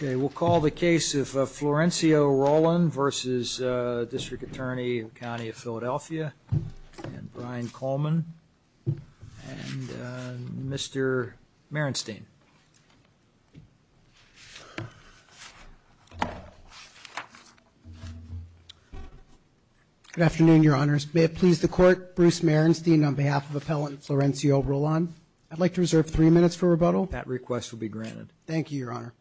We'll call the case of Florencio Rolan V.District Attorney of the County of Philadelphia and Brian Coleman and Mr. Merenstain. Good afternoon, Your Honors. May it please the Court, Bruce Merenstain on behalf of Appellant Florencio Rolan. I'd like to reserve three minutes for rebuttal. Thank you, Your Honor.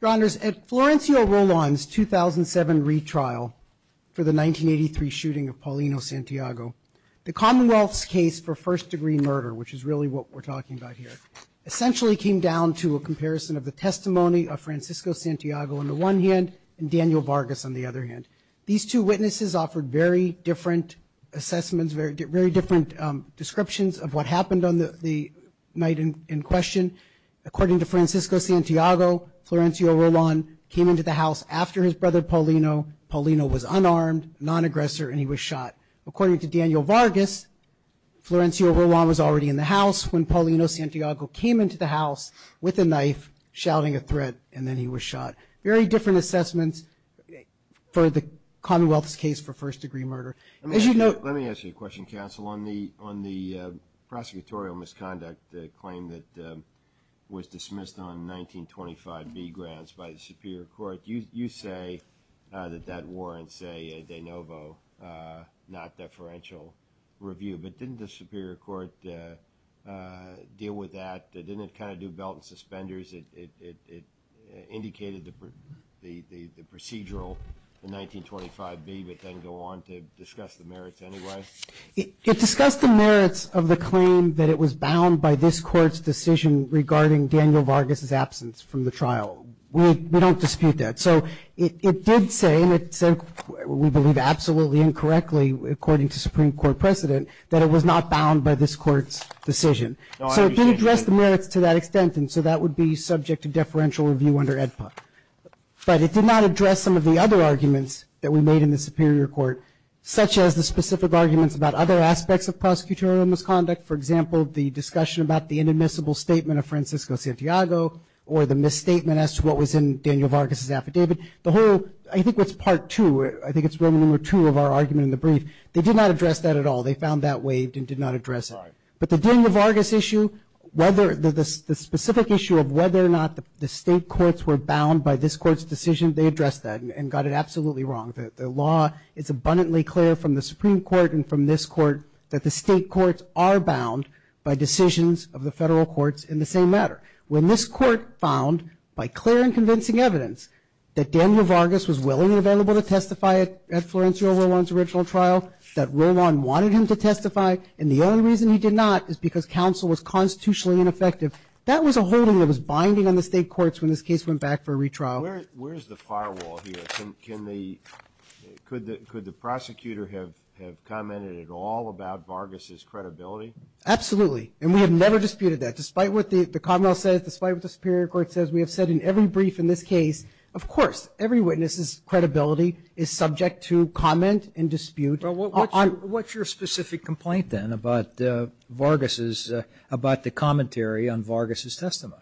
Your Honors, at Florencio Rolan's 2007 retrial for the 1983 shooting of Paulino Santiago, the Commonwealth's case for first-degree murder, which is really what we're talking about here, essentially came down to a comparison of the testimony of Francisco Santiago on the one hand and Daniel Vargas on the other hand. These two witnesses offered very different assessments, very different descriptions of what happened on the night in question. According to Francisco Santiago, Florencio Rolan came into the house after his brother Paulino. Paulino was unarmed, non-aggressor, and he was shot. According to Daniel Vargas, Florencio Rolan was already in the house when Paulino Santiago came into the house with a knife, shouting a threat, and then he was shot. Very different assessments for the Commonwealth's case for first-degree murder. Let me ask you a question, counsel. On the prosecutorial misconduct claim that was dismissed on 1925 B Grants by the Superior Court, you say that that warrants a de novo, not deferential review. But didn't the Superior Court deal with that? Didn't it kind of do belt and suspenders? It indicated the procedural in 1925 B, but then go on to discuss the merits anyway? It discussed the merits of the claim that it was bound by this Court's decision regarding Daniel Vargas' absence from the trial. We don't dispute that. So it did say, and it said, we believe, absolutely incorrectly, according to Supreme Court precedent, that it was not bound by this Court's decision. So it did address the merits to that extent, and so that would be subject to deferential review under AEDPA. But it did not address some of the other arguments that we made in the Superior Court, such as the specific arguments about other aspects of prosecutorial misconduct. For example, the discussion about the inadmissible statement of Francisco Santiago or the misstatement as to what was in Daniel Vargas' affidavit. The whole, I think it's part two, I think it's Roman numeral two of our argument in the brief. They did not address that at all. They found that waived and did not address it. But the Daniel Vargas issue, whether the specific issue of whether or not the State courts were bound by this Court's decision, they addressed that and got it absolutely wrong. The law is abundantly clear from the Supreme Court and from this Court that the State courts are bound by decisions of the Federal courts in the same matter. When this Court found, by clear and convincing evidence, that Daniel Vargas was willing and available to testify at Florencio Roland's original trial, that Roland wanted him to testify, and the only reason he did not is because counsel was constitutionally ineffective, that was a holding that was binding on the State courts when this case went back for a retrial. Where is the firewall here? Could the prosecutor have commented at all about Vargas' credibility? Absolutely. And we have never disputed that. Despite what the Commonwealth says, despite what the Superior Court says, we have said in every brief in this case, of course, every witness' credibility is subject to comment and dispute. But what's your specific complaint, then, about Vargas' – about the commentary on Vargas' testimony?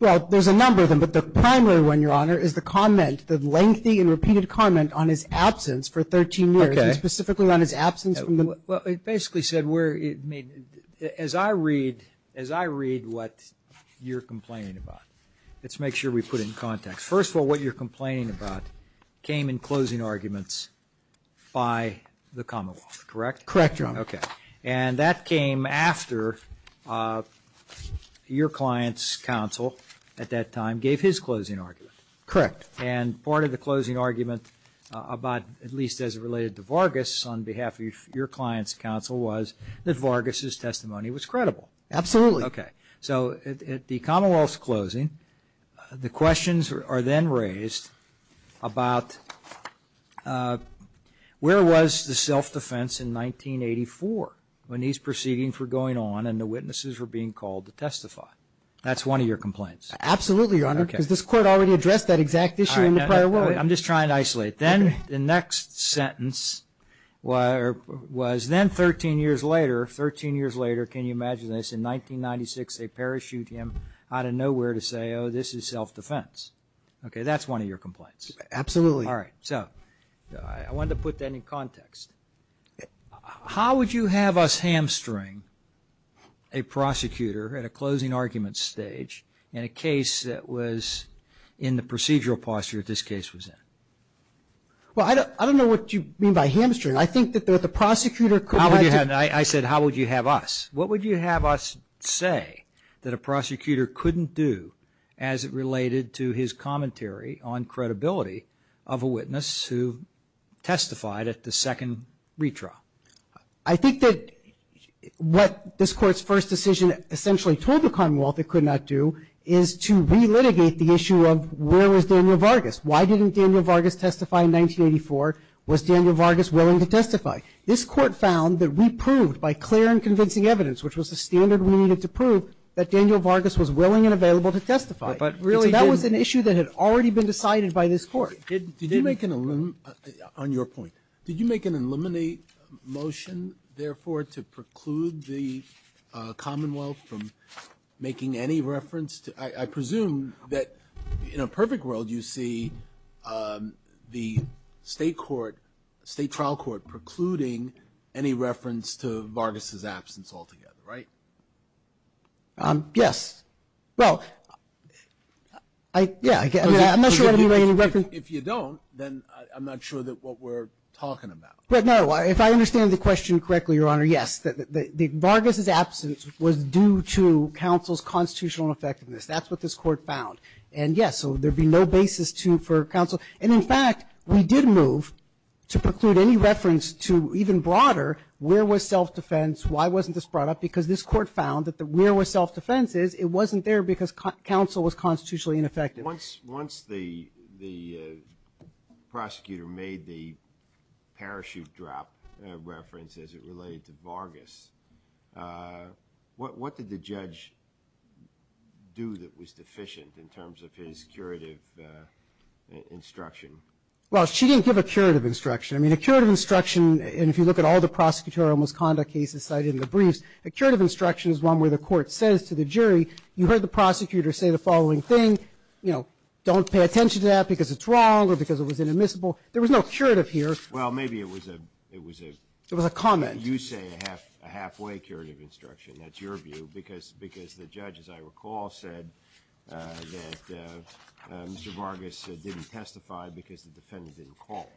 Well, there's a number of them, but the primary one, Your Honor, is the comment, the lengthy and repeated comment on his absence for 13 years. Okay. And specifically on his absence from the – Well, it basically said where – as I read – as I read what you're complaining about, let's make sure we put it in context. First of all, what you're complaining about came in closing arguments by the Commonwealth, correct? Correct, Your Honor. Okay. And that came after your client's counsel at that time gave his closing argument. Correct. And part of the closing argument about – at least as it related to Vargas on behalf of your client's counsel was that Vargas' testimony was credible. Absolutely. Okay. So at the Commonwealth's closing, the questions are then raised about where was the self-defense in 1984 when these proceedings were going on and the witnesses were being called to testify? That's one of your complaints. Absolutely, Your Honor, because this Court already addressed that exact issue in the prior word. I'm just trying to isolate. Then the next sentence was then 13 years later – 13 years later, can you imagine this? In 1996, they parachuted him out of nowhere to say, oh, this is self-defense. Okay, that's one of your complaints. Absolutely. All right. So I wanted to put that in context. How would you have us hamstring a prosecutor at a closing argument stage in a case that was in the procedural posture that this case was in? Well, I don't know what you mean by hamstring. I think that the prosecutor could – I said how would you have us. What would you have us say that a prosecutor couldn't do as it related to his commentary on credibility of a witness who testified at the second retrial? I think that what this Court's first decision essentially told the Commonwealth it could not do is to relitigate the issue of where was Daniel Vargas. Why didn't Daniel Vargas testify in 1984? Was Daniel Vargas willing to testify? This Court found that we proved by clear and convincing evidence, which was the standard we needed to prove, that Daniel Vargas was willing and available to testify. So that was an issue that had already been decided by this Court. Did you make an – on your point. Did you make an eliminate motion, therefore, to preclude the Commonwealth from making any reference? I presume that in a perfect world you see the State Court, State Trial Court precluding any reference to Vargas' absence altogether, right? Yes. Well, yeah, I'm not sure I made any reference. If you don't, then I'm not sure what we're talking about. But, no, if I understand the question correctly, Your Honor, yes. Vargas' absence was due to counsel's constitutional ineffectiveness. That's what this Court found. And, yes, so there'd be no basis for counsel. And, in fact, we did move to preclude any reference to even broader where was self-defense, why wasn't this brought up, because this Court found that where was self-defense is it wasn't there because counsel was constitutionally ineffective. Once the prosecutor made the parachute drop reference as it related to Vargas, what did the judge do that was deficient in terms of his curative instruction? Well, she didn't give a curative instruction. I mean, a curative instruction, and if you look at all the prosecutorial misconduct cases cited in the briefs, a curative instruction is one where the court says to the jury, you heard the prosecutor say the following thing, you know, don't pay attention to that because it's wrong or because it was inadmissible. There was no curative here. Well, maybe it was a comment. You say a halfway curative instruction, that's your view, because the judge, as I recall, said that Mr. Vargas didn't testify because the defendant didn't call,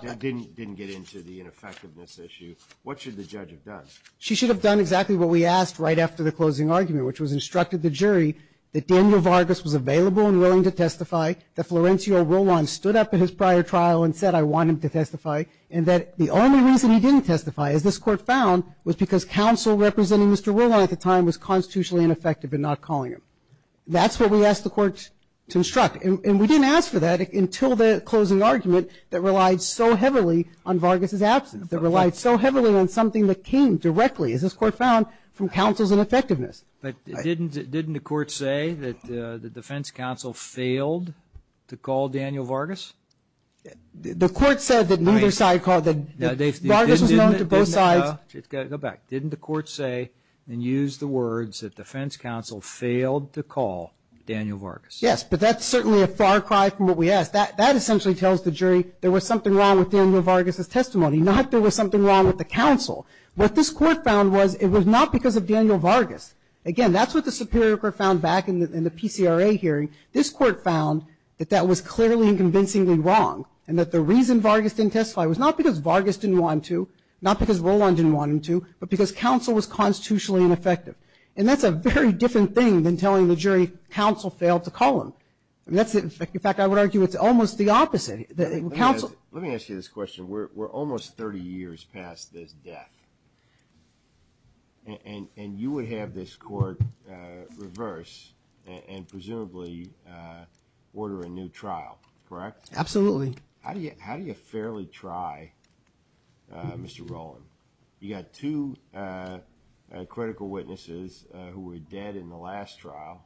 didn't get into the ineffectiveness issue. What should the judge have done? She should have done exactly what we asked right after the closing argument, which was instructed the jury that Daniel Vargas was available and willing to testify, that Florencio Roland stood up at his prior trial and said I want him to testify, and that the only reason he didn't testify, as this court found, was because counsel representing Mr. Roland at the time was constitutionally ineffective in not calling him. That's what we asked the court to instruct, and we didn't ask for that until the closing argument that relied so heavily on Vargas' absence, that relied so heavily on something that came directly, as this court found, from counsel's ineffectiveness. But didn't the court say that the defense counsel failed to call Daniel Vargas? The court said that neither side called him. Vargas was known to both sides. Go back. Didn't the court say and use the words that defense counsel failed to call Daniel Vargas? Yes, but that's certainly a far cry from what we asked. That essentially tells the jury there was something wrong with Daniel Vargas' testimony, not there was something wrong with the counsel. What this court found was it was not because of Daniel Vargas. Again, that's what the superior court found back in the PCRA hearing. This court found that that was clearly and convincingly wrong, and that the reason Vargas didn't testify was not because Vargas didn't want him to, not because Roland didn't want him to, but because counsel was constitutionally ineffective. And that's a very different thing than telling the jury counsel failed to call him. In fact, I would argue it's almost the opposite. Let me ask you this question. We're almost 30 years past his death, and you would have this court reverse and presumably order a new trial, correct? Absolutely. How do you fairly try, Mr. Roland? You got two critical witnesses who were dead in the last trial,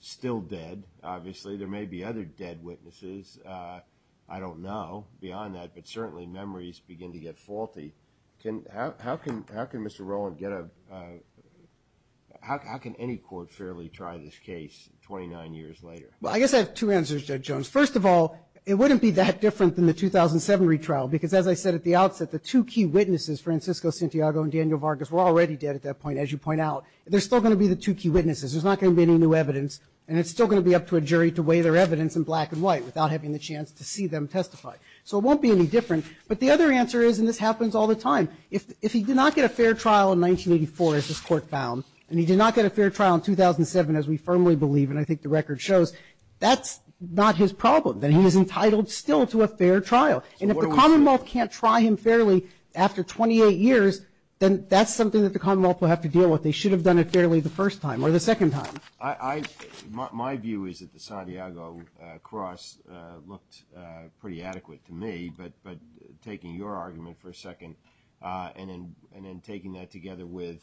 still dead, obviously. There may be other dead witnesses. I don't know beyond that, but certainly memories begin to get faulty. How can Mr. Roland get a ñ how can any court fairly try this case 29 years later? Well, I guess I have two answers, Judge Jones. First of all, it wouldn't be that different than the 2007 retrial, because as I said at the outset, the two key witnesses, Francisco Santiago and Daniel Vargas, were already dead at that point, as you point out. They're still going to be the two key witnesses. There's not going to be any new evidence, and it's still going to be up to a jury to weigh their evidence in black and white without having the chance to see them testify. So it won't be any different. But the other answer is, and this happens all the time, if he did not get a fair trial in 1984, as this Court found, and he did not get a fair trial in 2007, as we firmly believe, and I think the record shows, that's not his problem, that he is entitled still to a fair trial. And if the Commonwealth can't try him fairly after 28 years, then that's something that the Commonwealth will have to deal with. They should have done it fairly the first time or the second time. My view is that the Santiago cross looked pretty adequate to me, but taking your argument for a second and then taking that together with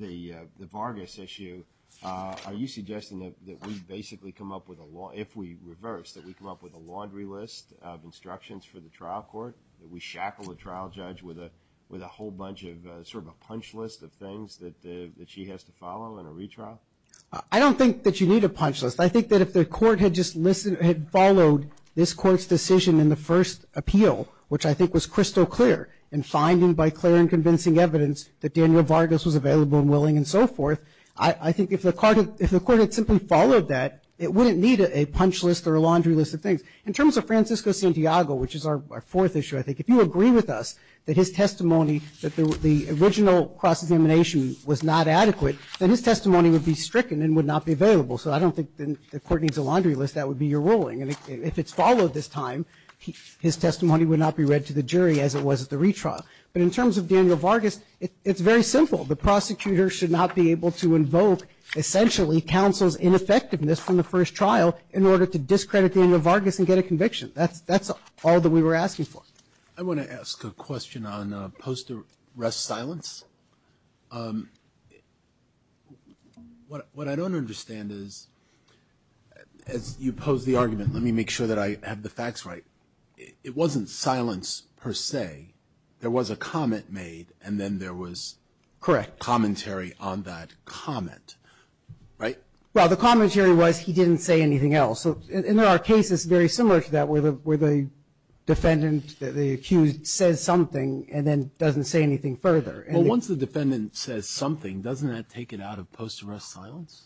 the Vargas issue, are you suggesting that we basically come up with a law, if we reverse, that we come up with a laundry list of instructions for the trial court, that we shackle a trial judge with a whole bunch of sort of a punch list of things that she has to follow in a retrial? I don't think that you need a punch list. I think that if the Court had just followed this Court's decision in the first appeal, which I think was crystal clear in finding by clear and convincing evidence that Daniel Vargas was available and willing and so forth, I think if the Court had simply followed that, it wouldn't need a punch list or a laundry list of things. In terms of Francisco Santiago, which is our fourth issue, I think, if you agree with us that his testimony, that the original cross-examination was not adequate, then his testimony would be stricken and would not be available. So I don't think the Court needs a laundry list. That would be your ruling. And if it's followed this time, his testimony would not be read to the jury as it was at the retrial. But in terms of Daniel Vargas, it's very simple. The prosecutor should not be able to invoke, essentially, counsel's ineffectiveness from the first trial in order to discredit Daniel Vargas and get a conviction. That's all that we were asking for. I want to ask a question on post-arrest silence. What I don't understand is, as you pose the argument, let me make sure that I have the facts right, it wasn't silence per se. There was a comment made and then there was commentary on that comment, right? Well, the commentary was he didn't say anything else. And there are cases very similar to that where the defendant, the accused, says something and then doesn't say anything further. Well, once the defendant says something, doesn't that take it out of post-arrest silence?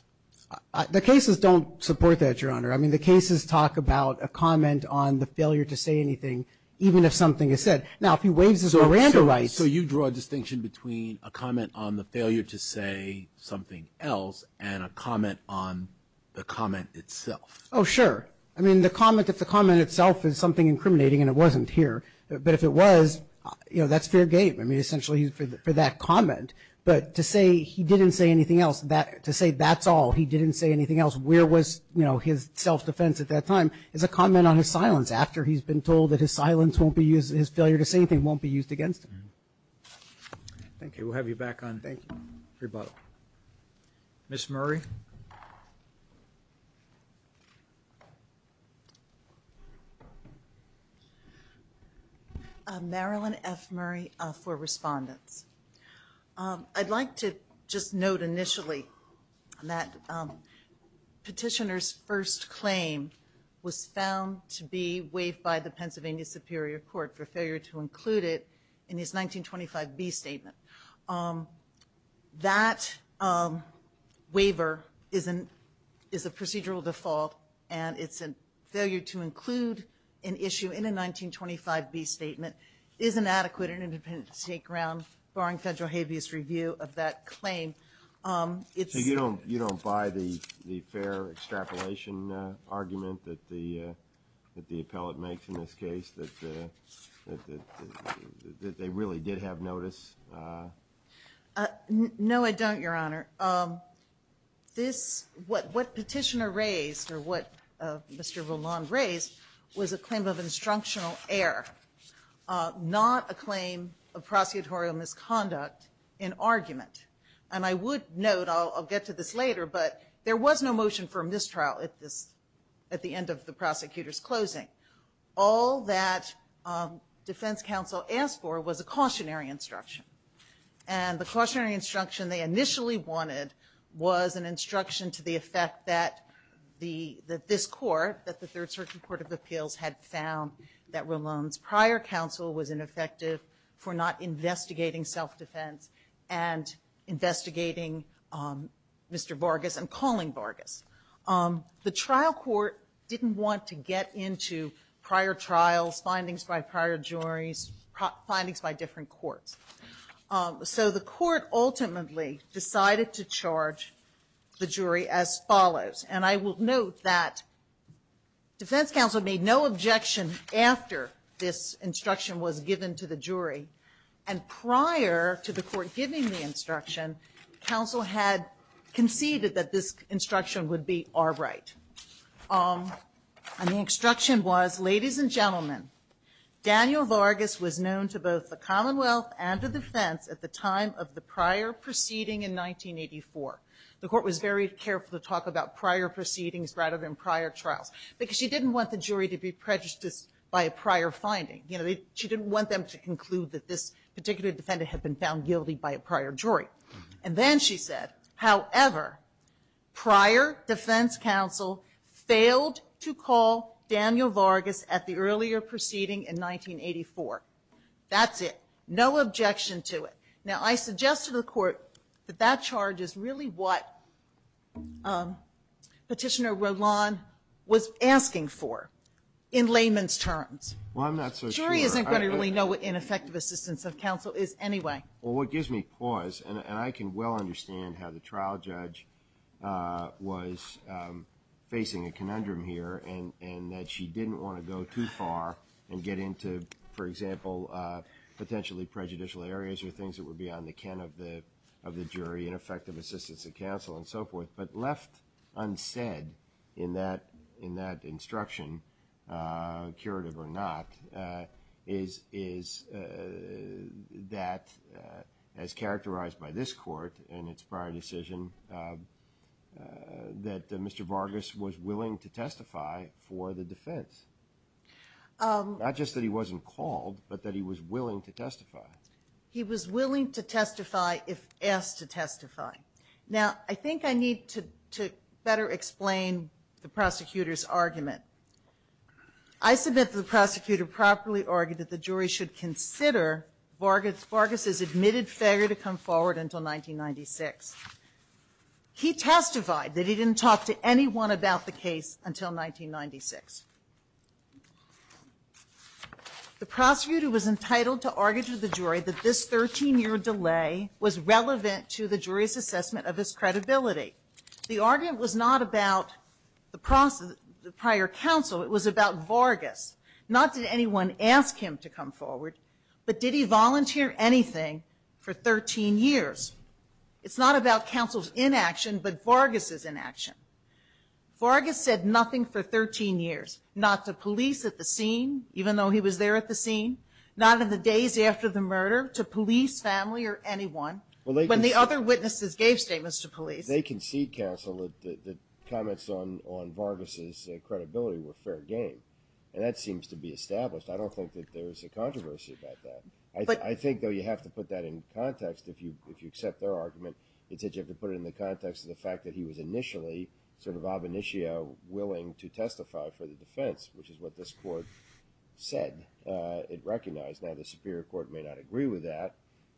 The cases don't support that, Your Honor. I mean, the cases talk about a comment on the failure to say anything, even if something is said. Now, if he waives his Miranda rights – So you draw a distinction between a comment on the failure to say something else and a comment on the comment itself? Oh, sure. I mean, the comment itself is something incriminating and it wasn't here. But if it was, you know, that's fair game. I mean, essentially for that comment. But to say he didn't say anything else, to say that's all, he didn't say anything else, where was his self-defense at that time, is a comment on his silence. After he's been told that his silence won't be used, his failure to say anything won't be used against him. Thank you. We'll have you back on rebuttal. Ms. Murray? Marilyn F. Murray for respondents. I'd like to just note initially that petitioner's first claim was found to be waived by the Pennsylvania Superior Court for failure to include it in his 1925B statement. That waiver is a procedural default, and it's a failure to include an issue in a 1925B statement is inadequate and independent of state ground, barring federal habeas review of that claim. So you don't buy the fair extrapolation argument that the appellate makes in this case, that they really did have notice? No, I don't, Your Honor. What petitioner raised, or what Mr. Voland raised, was a claim of instructional error, not a claim of prosecutorial misconduct in argument. And I would note, I'll get to this later, but there was no motion for mistrial at the end of the prosecutor's closing. All that defense counsel asked for was a cautionary instruction. And the cautionary instruction they initially wanted was an instruction to the effect that this court, that the Third Circuit Court of Appeals, had found that Rolon's prior counsel was ineffective for not investigating self-defense and investigating Mr. Vargas and calling Vargas. The trial court didn't want to get into prior trials, findings by prior juries, findings by different courts. So the court ultimately decided to charge the jury as follows. And I will note that defense counsel made no objection after this instruction was given to the jury. And prior to the court giving the instruction, counsel had conceded that this instruction would be outright. And the instruction was, ladies and gentlemen, Daniel Vargas was known to both the Commonwealth and the defense at the time of the prior proceeding in 1984. The court was very careful to talk about prior proceedings rather than prior trials, because she didn't want the jury to be prejudiced by a prior finding. You know, she didn't want them to conclude that this particular defendant had been found guilty by a prior jury. And then she said, however, prior defense counsel failed to call Daniel Vargas at the earlier proceeding in 1984. That's it. No objection to it. Now, I suggested to the court that that charge is really what Petitioner Rolon was asking for in layman's terms. Well, I'm not so sure. The jury isn't going to really know what ineffective assistance of counsel is anyway. Well, what gives me pause, and I can well understand how the trial judge was facing a conundrum here and that she didn't want to go too far and get into, for example, potentially prejudicial areas or things that were beyond the ken of the jury, ineffective assistance of counsel, and so forth, but left unsaid in that instruction, curative or not, is that, as characterized by this court in its prior decision, that Mr. Vargas was willing to testify for the defense. Not just that he wasn't called, but that he was willing to testify. Now, I think I need to better explain the prosecutor's argument. I submit that the prosecutor properly argued that the jury should consider Vargas's admitted failure to come forward until 1996. He testified that he didn't talk to anyone about the case until 1996. The prosecutor was entitled to argue to the jury that this 13-year delay was relevant to the jury's assessment of his credibility. The argument was not about the prior counsel. It was about Vargas. Not did anyone ask him to come forward, but did he volunteer anything for 13 years? It's not about counsel's inaction, but Vargas's inaction. Vargas said nothing for 13 years, not to police at the scene, even though he was there at the scene, not in the days after the murder, to police, family, or anyone, when the other witnesses gave statements to police. They concede, counsel, that comments on Vargas's credibility were fair game, and that seems to be established. I don't think that there's a controversy about that. I think, though, you have to put that in context if you accept their argument. It's that you have to put it in the context of the fact that he was initially sort of ab initio willing to testify for the defense, which is what this court said. It recognized. Now, the superior court may not agree with that,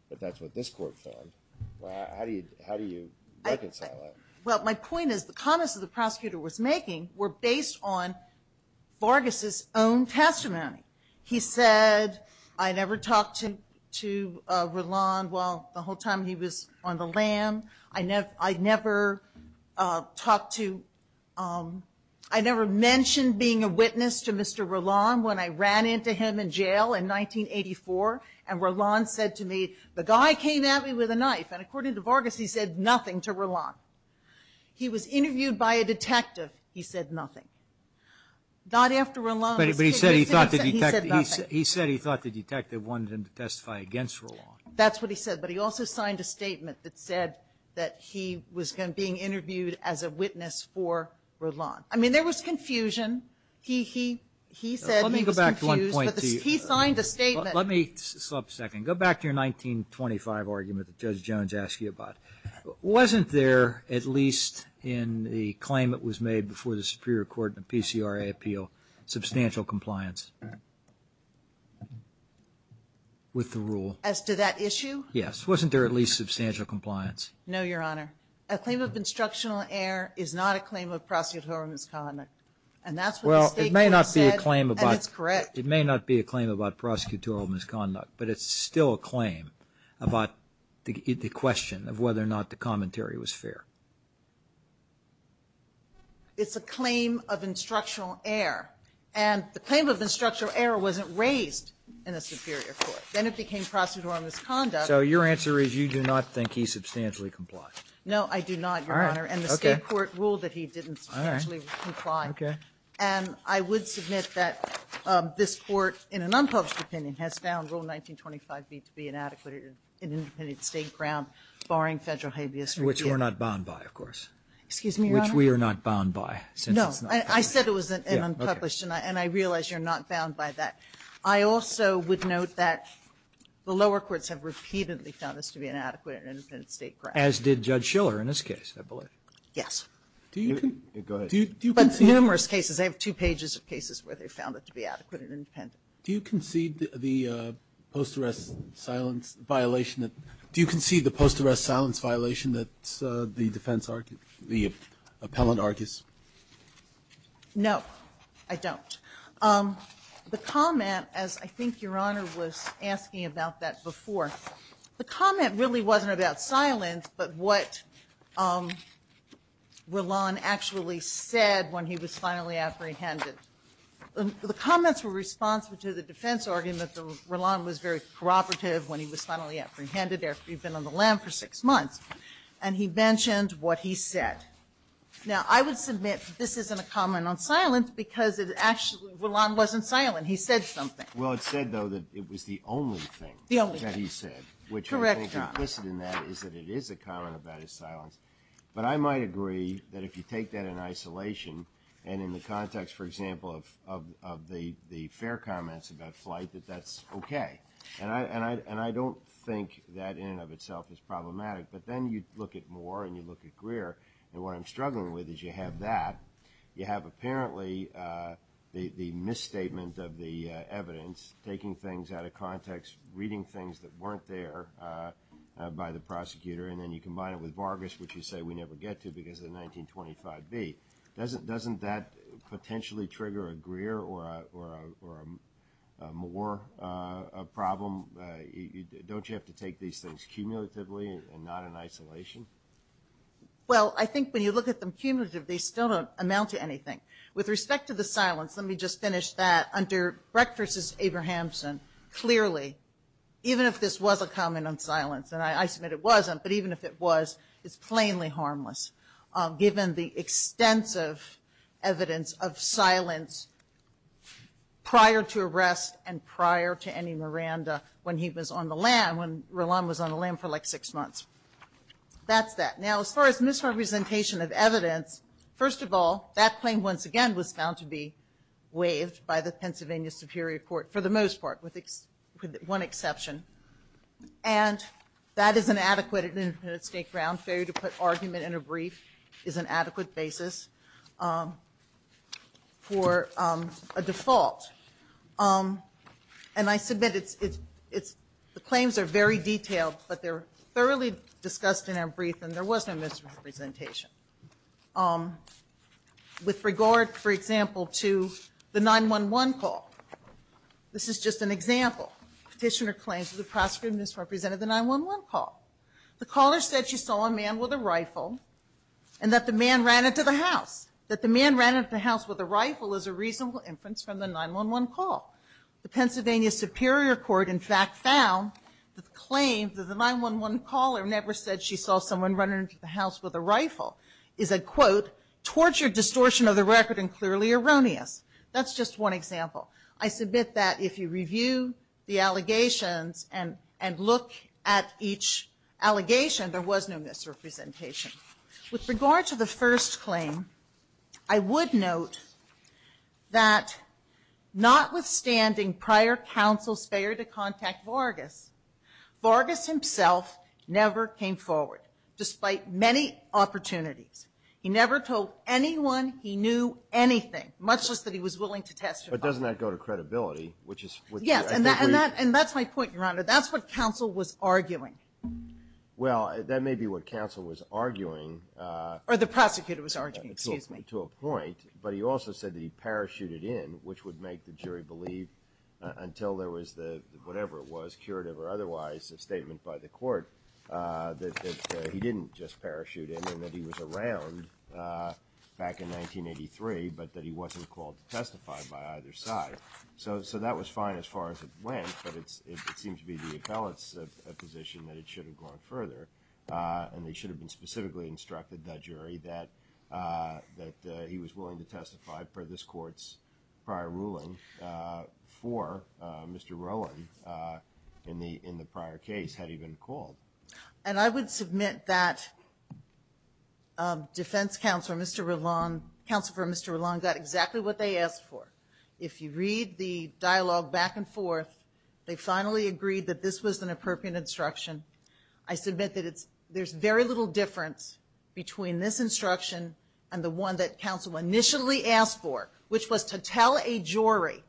but that's what this court found. How do you reconcile that? Well, my point is the comments that the prosecutor was making were based on Vargas's own testimony. He said, I never talked to Roland while the whole time he was on the land. I never mentioned being a witness to Mr. Roland when I ran into him in jail in 1984, and Roland said to me, the guy came at me with a knife. And according to Vargas, he said nothing to Roland. He was interviewed by a detective. He said nothing. Not after Roland was killed. But he said he thought the detective wanted him to testify against Roland. That's what he said. But he also signed a statement that said that he was being interviewed as a witness for Roland. I mean, there was confusion. He said he was confused, but he signed a statement. Let me stop a second. Go back to your 1925 argument that Judge Jones asked you about. Wasn't there, at least in the claim that was made before the superior court in the PCRA appeal, substantial compliance with the rule? As to that issue? Yes. Wasn't there at least substantial compliance? No, Your Honor. A claim of instructional error is not a claim of prosecutorial misconduct. And that's what the statement said, and it's correct. Well, it may not be a claim about prosecutorial misconduct, but it's still a claim about the question of whether or not the commentary was fair. It's a claim of instructional error. And the claim of instructional error wasn't raised in the superior court. Then it became prosecutorial misconduct. So your answer is you do not think he substantially complied? No, I do not, Your Honor. All right. Okay. And the State court ruled that he didn't substantially comply. All right. Okay. And I would submit that this Court, in an unpublished opinion, has found Rule 1925B to be inadequate or an independent State ground, barring Federal habeas regime. Which we're not bound by, of course. Excuse me, Your Honor? Which we are not bound by, since it's not published. I said it was an unpublished, and I realize you're not bound by that. I also would note that the lower courts have repeatedly found this to be an adequate and independent State ground. As did Judge Schiller in this case, I believe. Go ahead. Do you concede? But numerous cases. I have two pages of cases where they found it to be adequate and independent. Do you concede the post-arrest silence violation that the defense, the appellant argues? No, I don't. The comment, as I think Your Honor was asking about that before, the comment really wasn't about silence, but what Rolon actually said when he was finally apprehended. The comments were responsive to the defense argument that Rolon was very cooperative when he was finally apprehended after he'd been on the land for six months. And he mentioned what he said. Now, I would submit this isn't a comment on silence because Rolon wasn't silent. He said something. Well, it said, though, that it was the only thing that he said. Correct, Your Honor. Which I think implicit in that is that it is a comment about his silence. But I might agree that if you take that in isolation and in the context, for example, of the fair comments about flight, that that's okay. And I don't think that in and of itself is problematic. But then you look at Moore and you look at Greer, and what I'm struggling with is you have that. You have apparently the misstatement of the evidence, taking things out of context, reading things that weren't there by the prosecutor, and then you combine it with Vargas, which you say we never get to because of the 1925b. Doesn't that potentially trigger a Greer or a Moore problem? Don't you have to take these things cumulatively and not in isolation? Well, I think when you look at them cumulatively, they still don't amount to anything. With respect to the silence, let me just finish that. Under Brecht v. Abrahamson, clearly, even if this was a comment on silence, and I submit it wasn't, but even if it was, it's plainly harmless given the extensive evidence of silence prior to arrest and prior to any Miranda when he was on the land, when Rolland was on the land for like six months. That's that. Now, as far as misrepresentation of evidence, first of all, that claim, once again, was found to be waived by the Pennsylvania Superior Court, for the most part, with one exception. And that is an adequate and independent state ground. Failure to put argument in a brief is an adequate basis for a default. And I submit the claims are very detailed, but they're thoroughly discussed in our brief, and there was no misrepresentation. With regard, for example, to the 911 call, this is just an example. Petitioner claims that the prosecutor misrepresented the 911 call. The caller said she saw a man with a rifle and that the man ran into the house. That the man ran into the house with a rifle is a reasonable inference from the 911 call. The Pennsylvania Superior Court, in fact, found the claim that the 911 caller never said she saw someone running into the house with a rifle is a, quote, tortured distortion of the record and clearly erroneous. That's just one example. I submit that if you review the allegations and look at each allegation, there was no misrepresentation. With regard to the first claim, I would note that notwithstanding prior counsel's failure to contact Vargas, Vargas himself never came forward, despite many opportunities. He never told anyone he knew anything, much less that he was willing to testify. But doesn't that go to credibility? Yes, and that's my point, Your Honor. That's what counsel was arguing. Well, that may be what counsel was arguing. Or the prosecutor was arguing, excuse me. To a point. But he also said that he parachuted in, which would make the jury believe, until there was the, whatever it was, curative or otherwise, a statement by the court that he didn't just parachute in and that he was around back in 1983, but that he wasn't called to testify by either side. So that was fine as far as it went, but it seems to be the appellate's position that it should have gone further, and they should have been specifically instructed, that jury, that he was willing to testify for this court's prior ruling for Mr. Rowland in the prior case, had he been called. And I would submit that defense counsel, Mr. Rowland, counsel for Mr. Rowland got exactly what they asked for. If you read the dialogue back and forth, they finally agreed that this was an appropriate instruction. I submit that there's very little difference between this instruction and the one that counsel initially asked for, which was to tell a jury,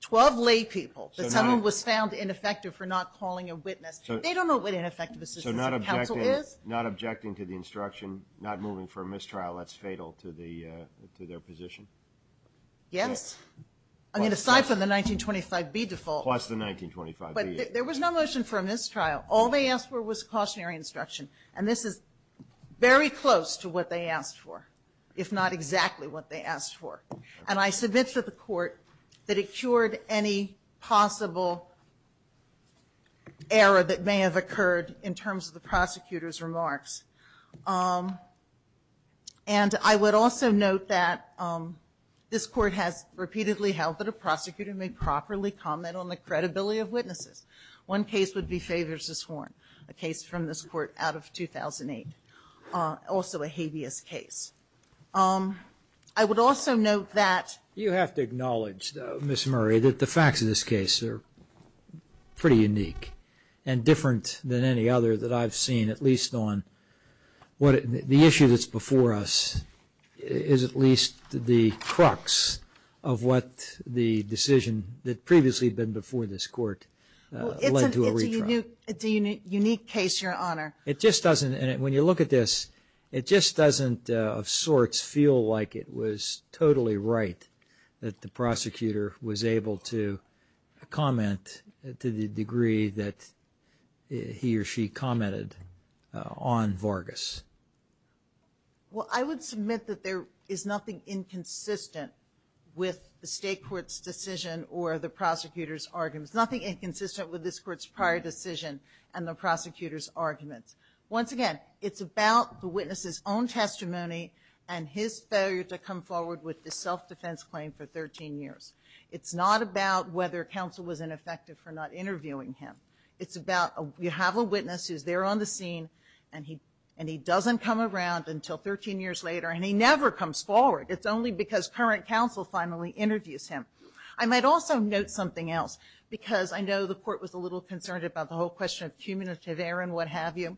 12 lay people, that someone was found ineffective for not calling a witness. They don't know what ineffective assistance in counsel is. So not objecting to the instruction, not moving for a mistrial, that's fatal to their position? Yes. I mean, aside from the 1925B default. Plus the 1925B. But there was no motion for a mistrial. All they asked for was cautionary instruction, and this is very close to what they asked for, if not exactly what they asked for. And I submit to the Court that it cured any possible error that may have occurred in terms of the prosecutor's remarks. And I would also note that this Court has repeatedly held that a prosecutor may properly comment on the credibility of witnesses. One case would be Favors v. Horn, a case from this Court out of 2008. Also a habeas case. I would also note that. You have to acknowledge, Ms. Murray, that the facts of this case are pretty unique and different than any other that I've seen, at least on the issue that's before us is at least the crux of what the decision that previously had been before this Court led to a retrial. It's a unique case, Your Honor. It just doesn't. And when you look at this, it just doesn't of sorts feel like it was totally right that the prosecutor was able to comment to the degree that he or she commented on Vargas. Well, I would submit that there is nothing inconsistent with the State Court's decision or the prosecutor's argument. There's nothing inconsistent with this Court's prior decision and the prosecutor's argument. Once again, it's about the witness's own testimony and his failure to come forward with the self-defense claim for 13 years. It's not about whether counsel was ineffective for not interviewing him. It's about you have a witness who's there on the scene, and he doesn't come around until 13 years later, and he never comes forward. It's only because current counsel finally interviews him. I might also note something else, because I know the Court was a little concerned about the whole question of cumulative error and what have you.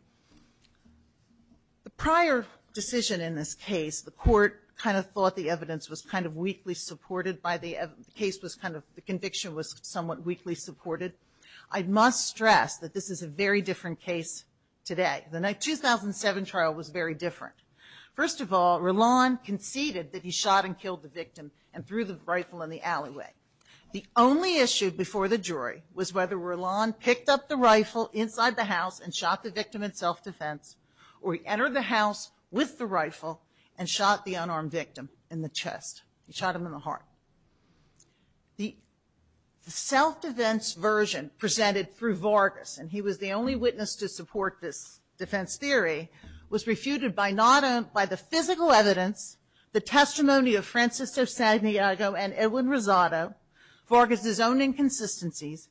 The prior decision in this case, the Court kind of thought the evidence was kind of weakly supported by the evidence. The case was kind of, the conviction was somewhat weakly supported. I must stress that this is a very different case today. The 2007 trial was very different. First of all, Rolland conceded that he shot and killed the victim and threw the rifle in the alleyway. The only issue before the jury was whether Rolland picked up the rifle inside the house and shot the victim in self-defense, or he entered the house with the rifle and shot the unarmed victim in the chest. He shot him in the heart. The self-defense version presented through Vargas, and he was the only witness to support this defense theory, was refuted by the physical evidence, the testimony of Francisco Santiago and Edwin Rosado, Vargas' own inconsistencies,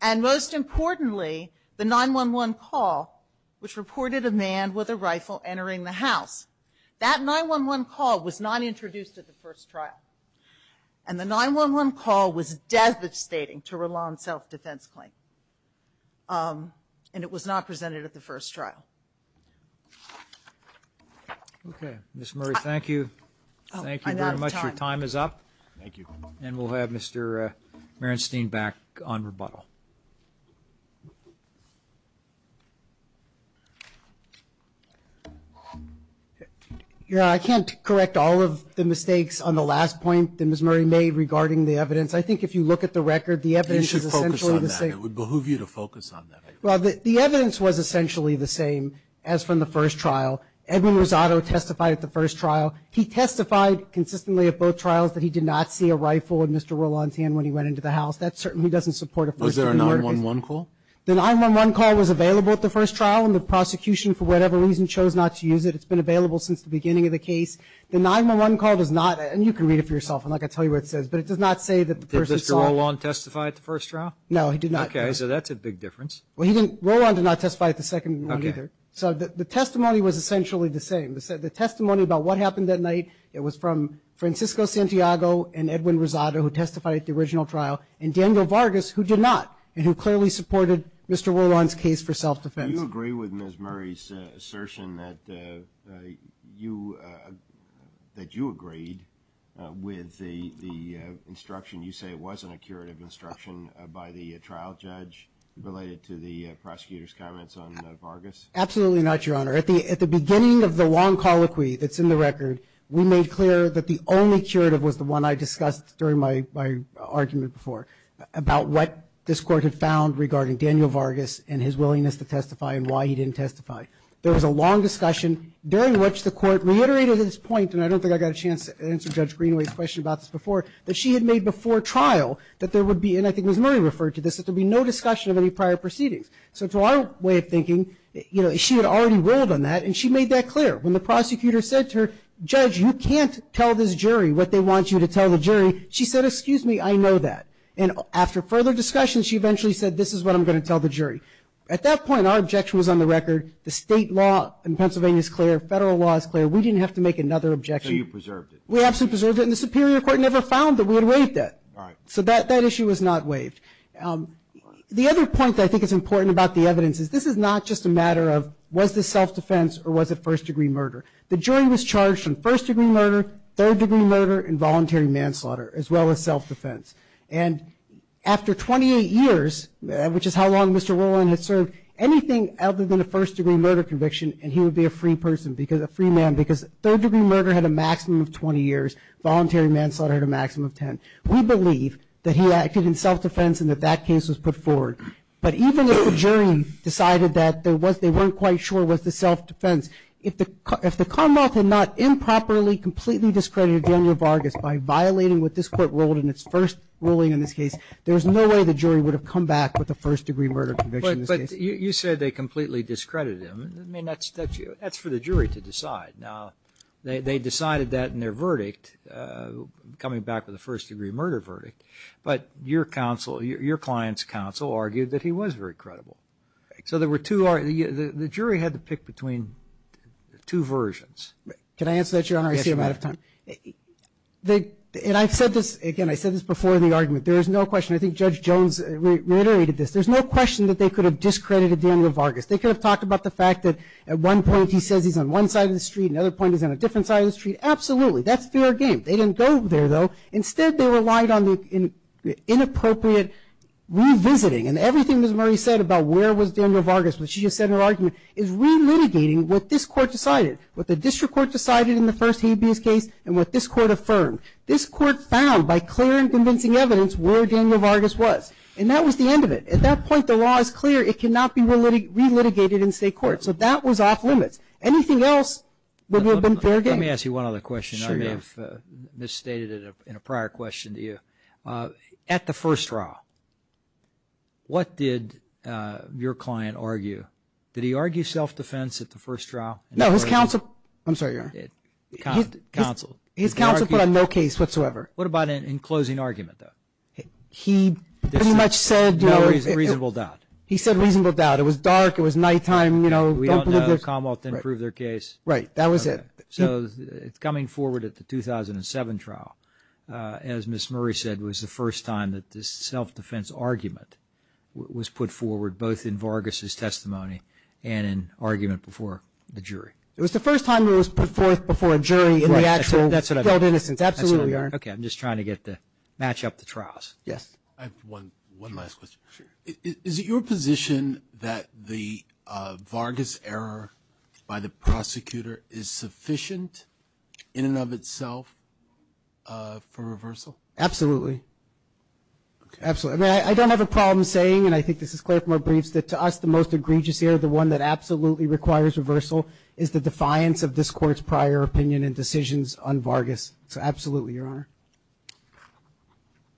and most importantly, the 911 call, which reported a man with a rifle entering the house. That 911 call was not introduced at the first trial. And the 911 call was devastating to Rolland's self-defense claim. And it was not presented at the first trial. Okay. Ms. Murray, thank you. Thank you very much. Your time is up. Thank you. And we'll have Mr. Marenstein back on rebuttal. Yeah, I can't correct all of the mistakes on the last point that Ms. Murray made regarding the evidence. I think if you look at the record, the evidence is essentially the same. You should focus on that. It would behoove you to focus on that. Well, the evidence was essentially the same as from the first trial. Edwin Rosado testified at the first trial. He testified consistently at both trials that he did not see a rifle in Mr. Rolland's hand when he went into the house. That certainly doesn't support a first-degree murder case. Was there a 911 call? The 911 call was available at the first trial, and the prosecution, for whatever reason, chose not to use it. It's been available since the beginning of the case. The 911 call does not, and you can read it for yourself, and I can tell you what it says, but it does not say that the person saw it. Did Mr. Rolland testify at the first trial? No, he did not. Okay, so that's a big difference. Well, he didn't. Rolland did not testify at the second one either. Okay. So the testimony was essentially the same. The testimony about what happened that night, it was from Francisco Santiago and Edwin Rosado who testified at the original trial, and Daniel Vargas who did not and who clearly supported Mr. Rolland's case for self-defense. Do you agree with Ms. Murray's assertion that you agreed with the instruction? You say it wasn't a curative instruction by the trial judge related to the prosecutor's comments on Vargas? Absolutely not, Your Honor. At the beginning of the long colloquy that's in the record, we made clear that the only curative was the one I discussed during my argument before about what this Court had found regarding Daniel Vargas and his willingness to testify and why he didn't testify. There was a long discussion during which the Court reiterated its point, and I don't think I got a chance to answer Judge Greenway's question about this before, that she had made before trial that there would be, and I think Ms. Murray referred to this, that there would be no discussion of any prior proceedings. So to our way of thinking, you know, she had already ruled on that, and she made that clear. When the prosecutor said to her, Judge, you can't tell this jury what they want you to tell the jury, she said, excuse me, I know that. And after further discussion, she eventually said, this is what I'm going to tell the jury. At that point, our objection was on the record. The state law in Pennsylvania is clear. Federal law is clear. We didn't have to make another objection. So you preserved it? We absolutely preserved it. And the Superior Court never found that we had waived that. Right. So that issue was not waived. The other point that I think is important about the evidence is this is not just a matter of was this self-defense or was it first-degree murder. The jury was charged in first-degree murder, third-degree murder, and voluntary manslaughter, as well as self-defense. And after 28 years, which is how long Mr. Rowland had served, anything other than a first-degree murder conviction and he would be a free person, a free man, because third-degree murder had a maximum of 20 years. Voluntary manslaughter had a maximum of 10. We believe that he acted in self-defense and that that case was put forward. But even if the jury decided that they weren't quite sure it was the self-defense, if the Commonwealth had not improperly, completely discredited Daniel Vargas by violating what this Court ruled in its first ruling in this case, there's no way the jury would have come back with a first-degree murder conviction. But you said they completely discredited him. I mean, that's for the jury to decide. Now, they decided that in their verdict, coming back with a first-degree murder verdict. But your client's counsel argued that he was very credible. So the jury had to pick between two versions. Can I answer that, Your Honor? I see I'm out of time. And I've said this, again, I've said this before in the argument, there is no question, I think Judge Jones reiterated this, there's no question that they could have discredited Daniel Vargas. They could have talked about the fact that at one point he says he's on one side of the street, at another point he's on a different side of the street. Absolutely. That's fair game. They didn't go there, though. Instead, they relied on the inappropriate revisiting. And everything Ms. Murray said about where was Daniel Vargas when she just said her argument is relitigating what this Court decided, what the district court decided in the first habeas case, and what this Court affirmed. This Court found by clear and convincing evidence where Daniel Vargas was. And that was the end of it. At that point, the law is clear. It cannot be relitigated in state court. So that was off limits. Anything else would have been fair game. Let me ask you one other question. I may have misstated it in a prior question to you. At the first trial, what did your client argue? Did he argue self-defense at the first trial? No, his counsel put on no case whatsoever. What about in closing argument, though? He pretty much said, you know. No reasonable doubt. He said reasonable doubt. It was dark. It was nighttime, you know. We all know. Commonwealth didn't prove their case. Right. That was it. So it's coming forward at the 2007 trial, as Ms. Murray said, was the first time that this self-defense argument was put forward, both in Vargas' testimony and in argument before the jury. It was the first time it was put forth before a jury in the actual held innocence. Absolutely, Your Honor. Okay, I'm just trying to match up the trials. Yes? I have one last question. Sure. Is it your position that the Vargas error by the prosecutor is sufficient in and of itself for reversal? Absolutely. Okay. Absolutely. I mean, I don't have a problem saying, and I think this is clear from our briefs, that to us the most egregious error, the one that absolutely requires reversal, is the defiance of this Court's prior opinion and decisions on Vargas. So absolutely, Your Honor.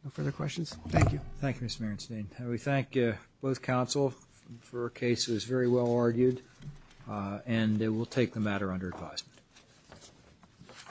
No further questions? Thank you. Thank you, Mr. Merenstein. We thank both counsel for a case that was very well argued, and we'll take the matter under advisement.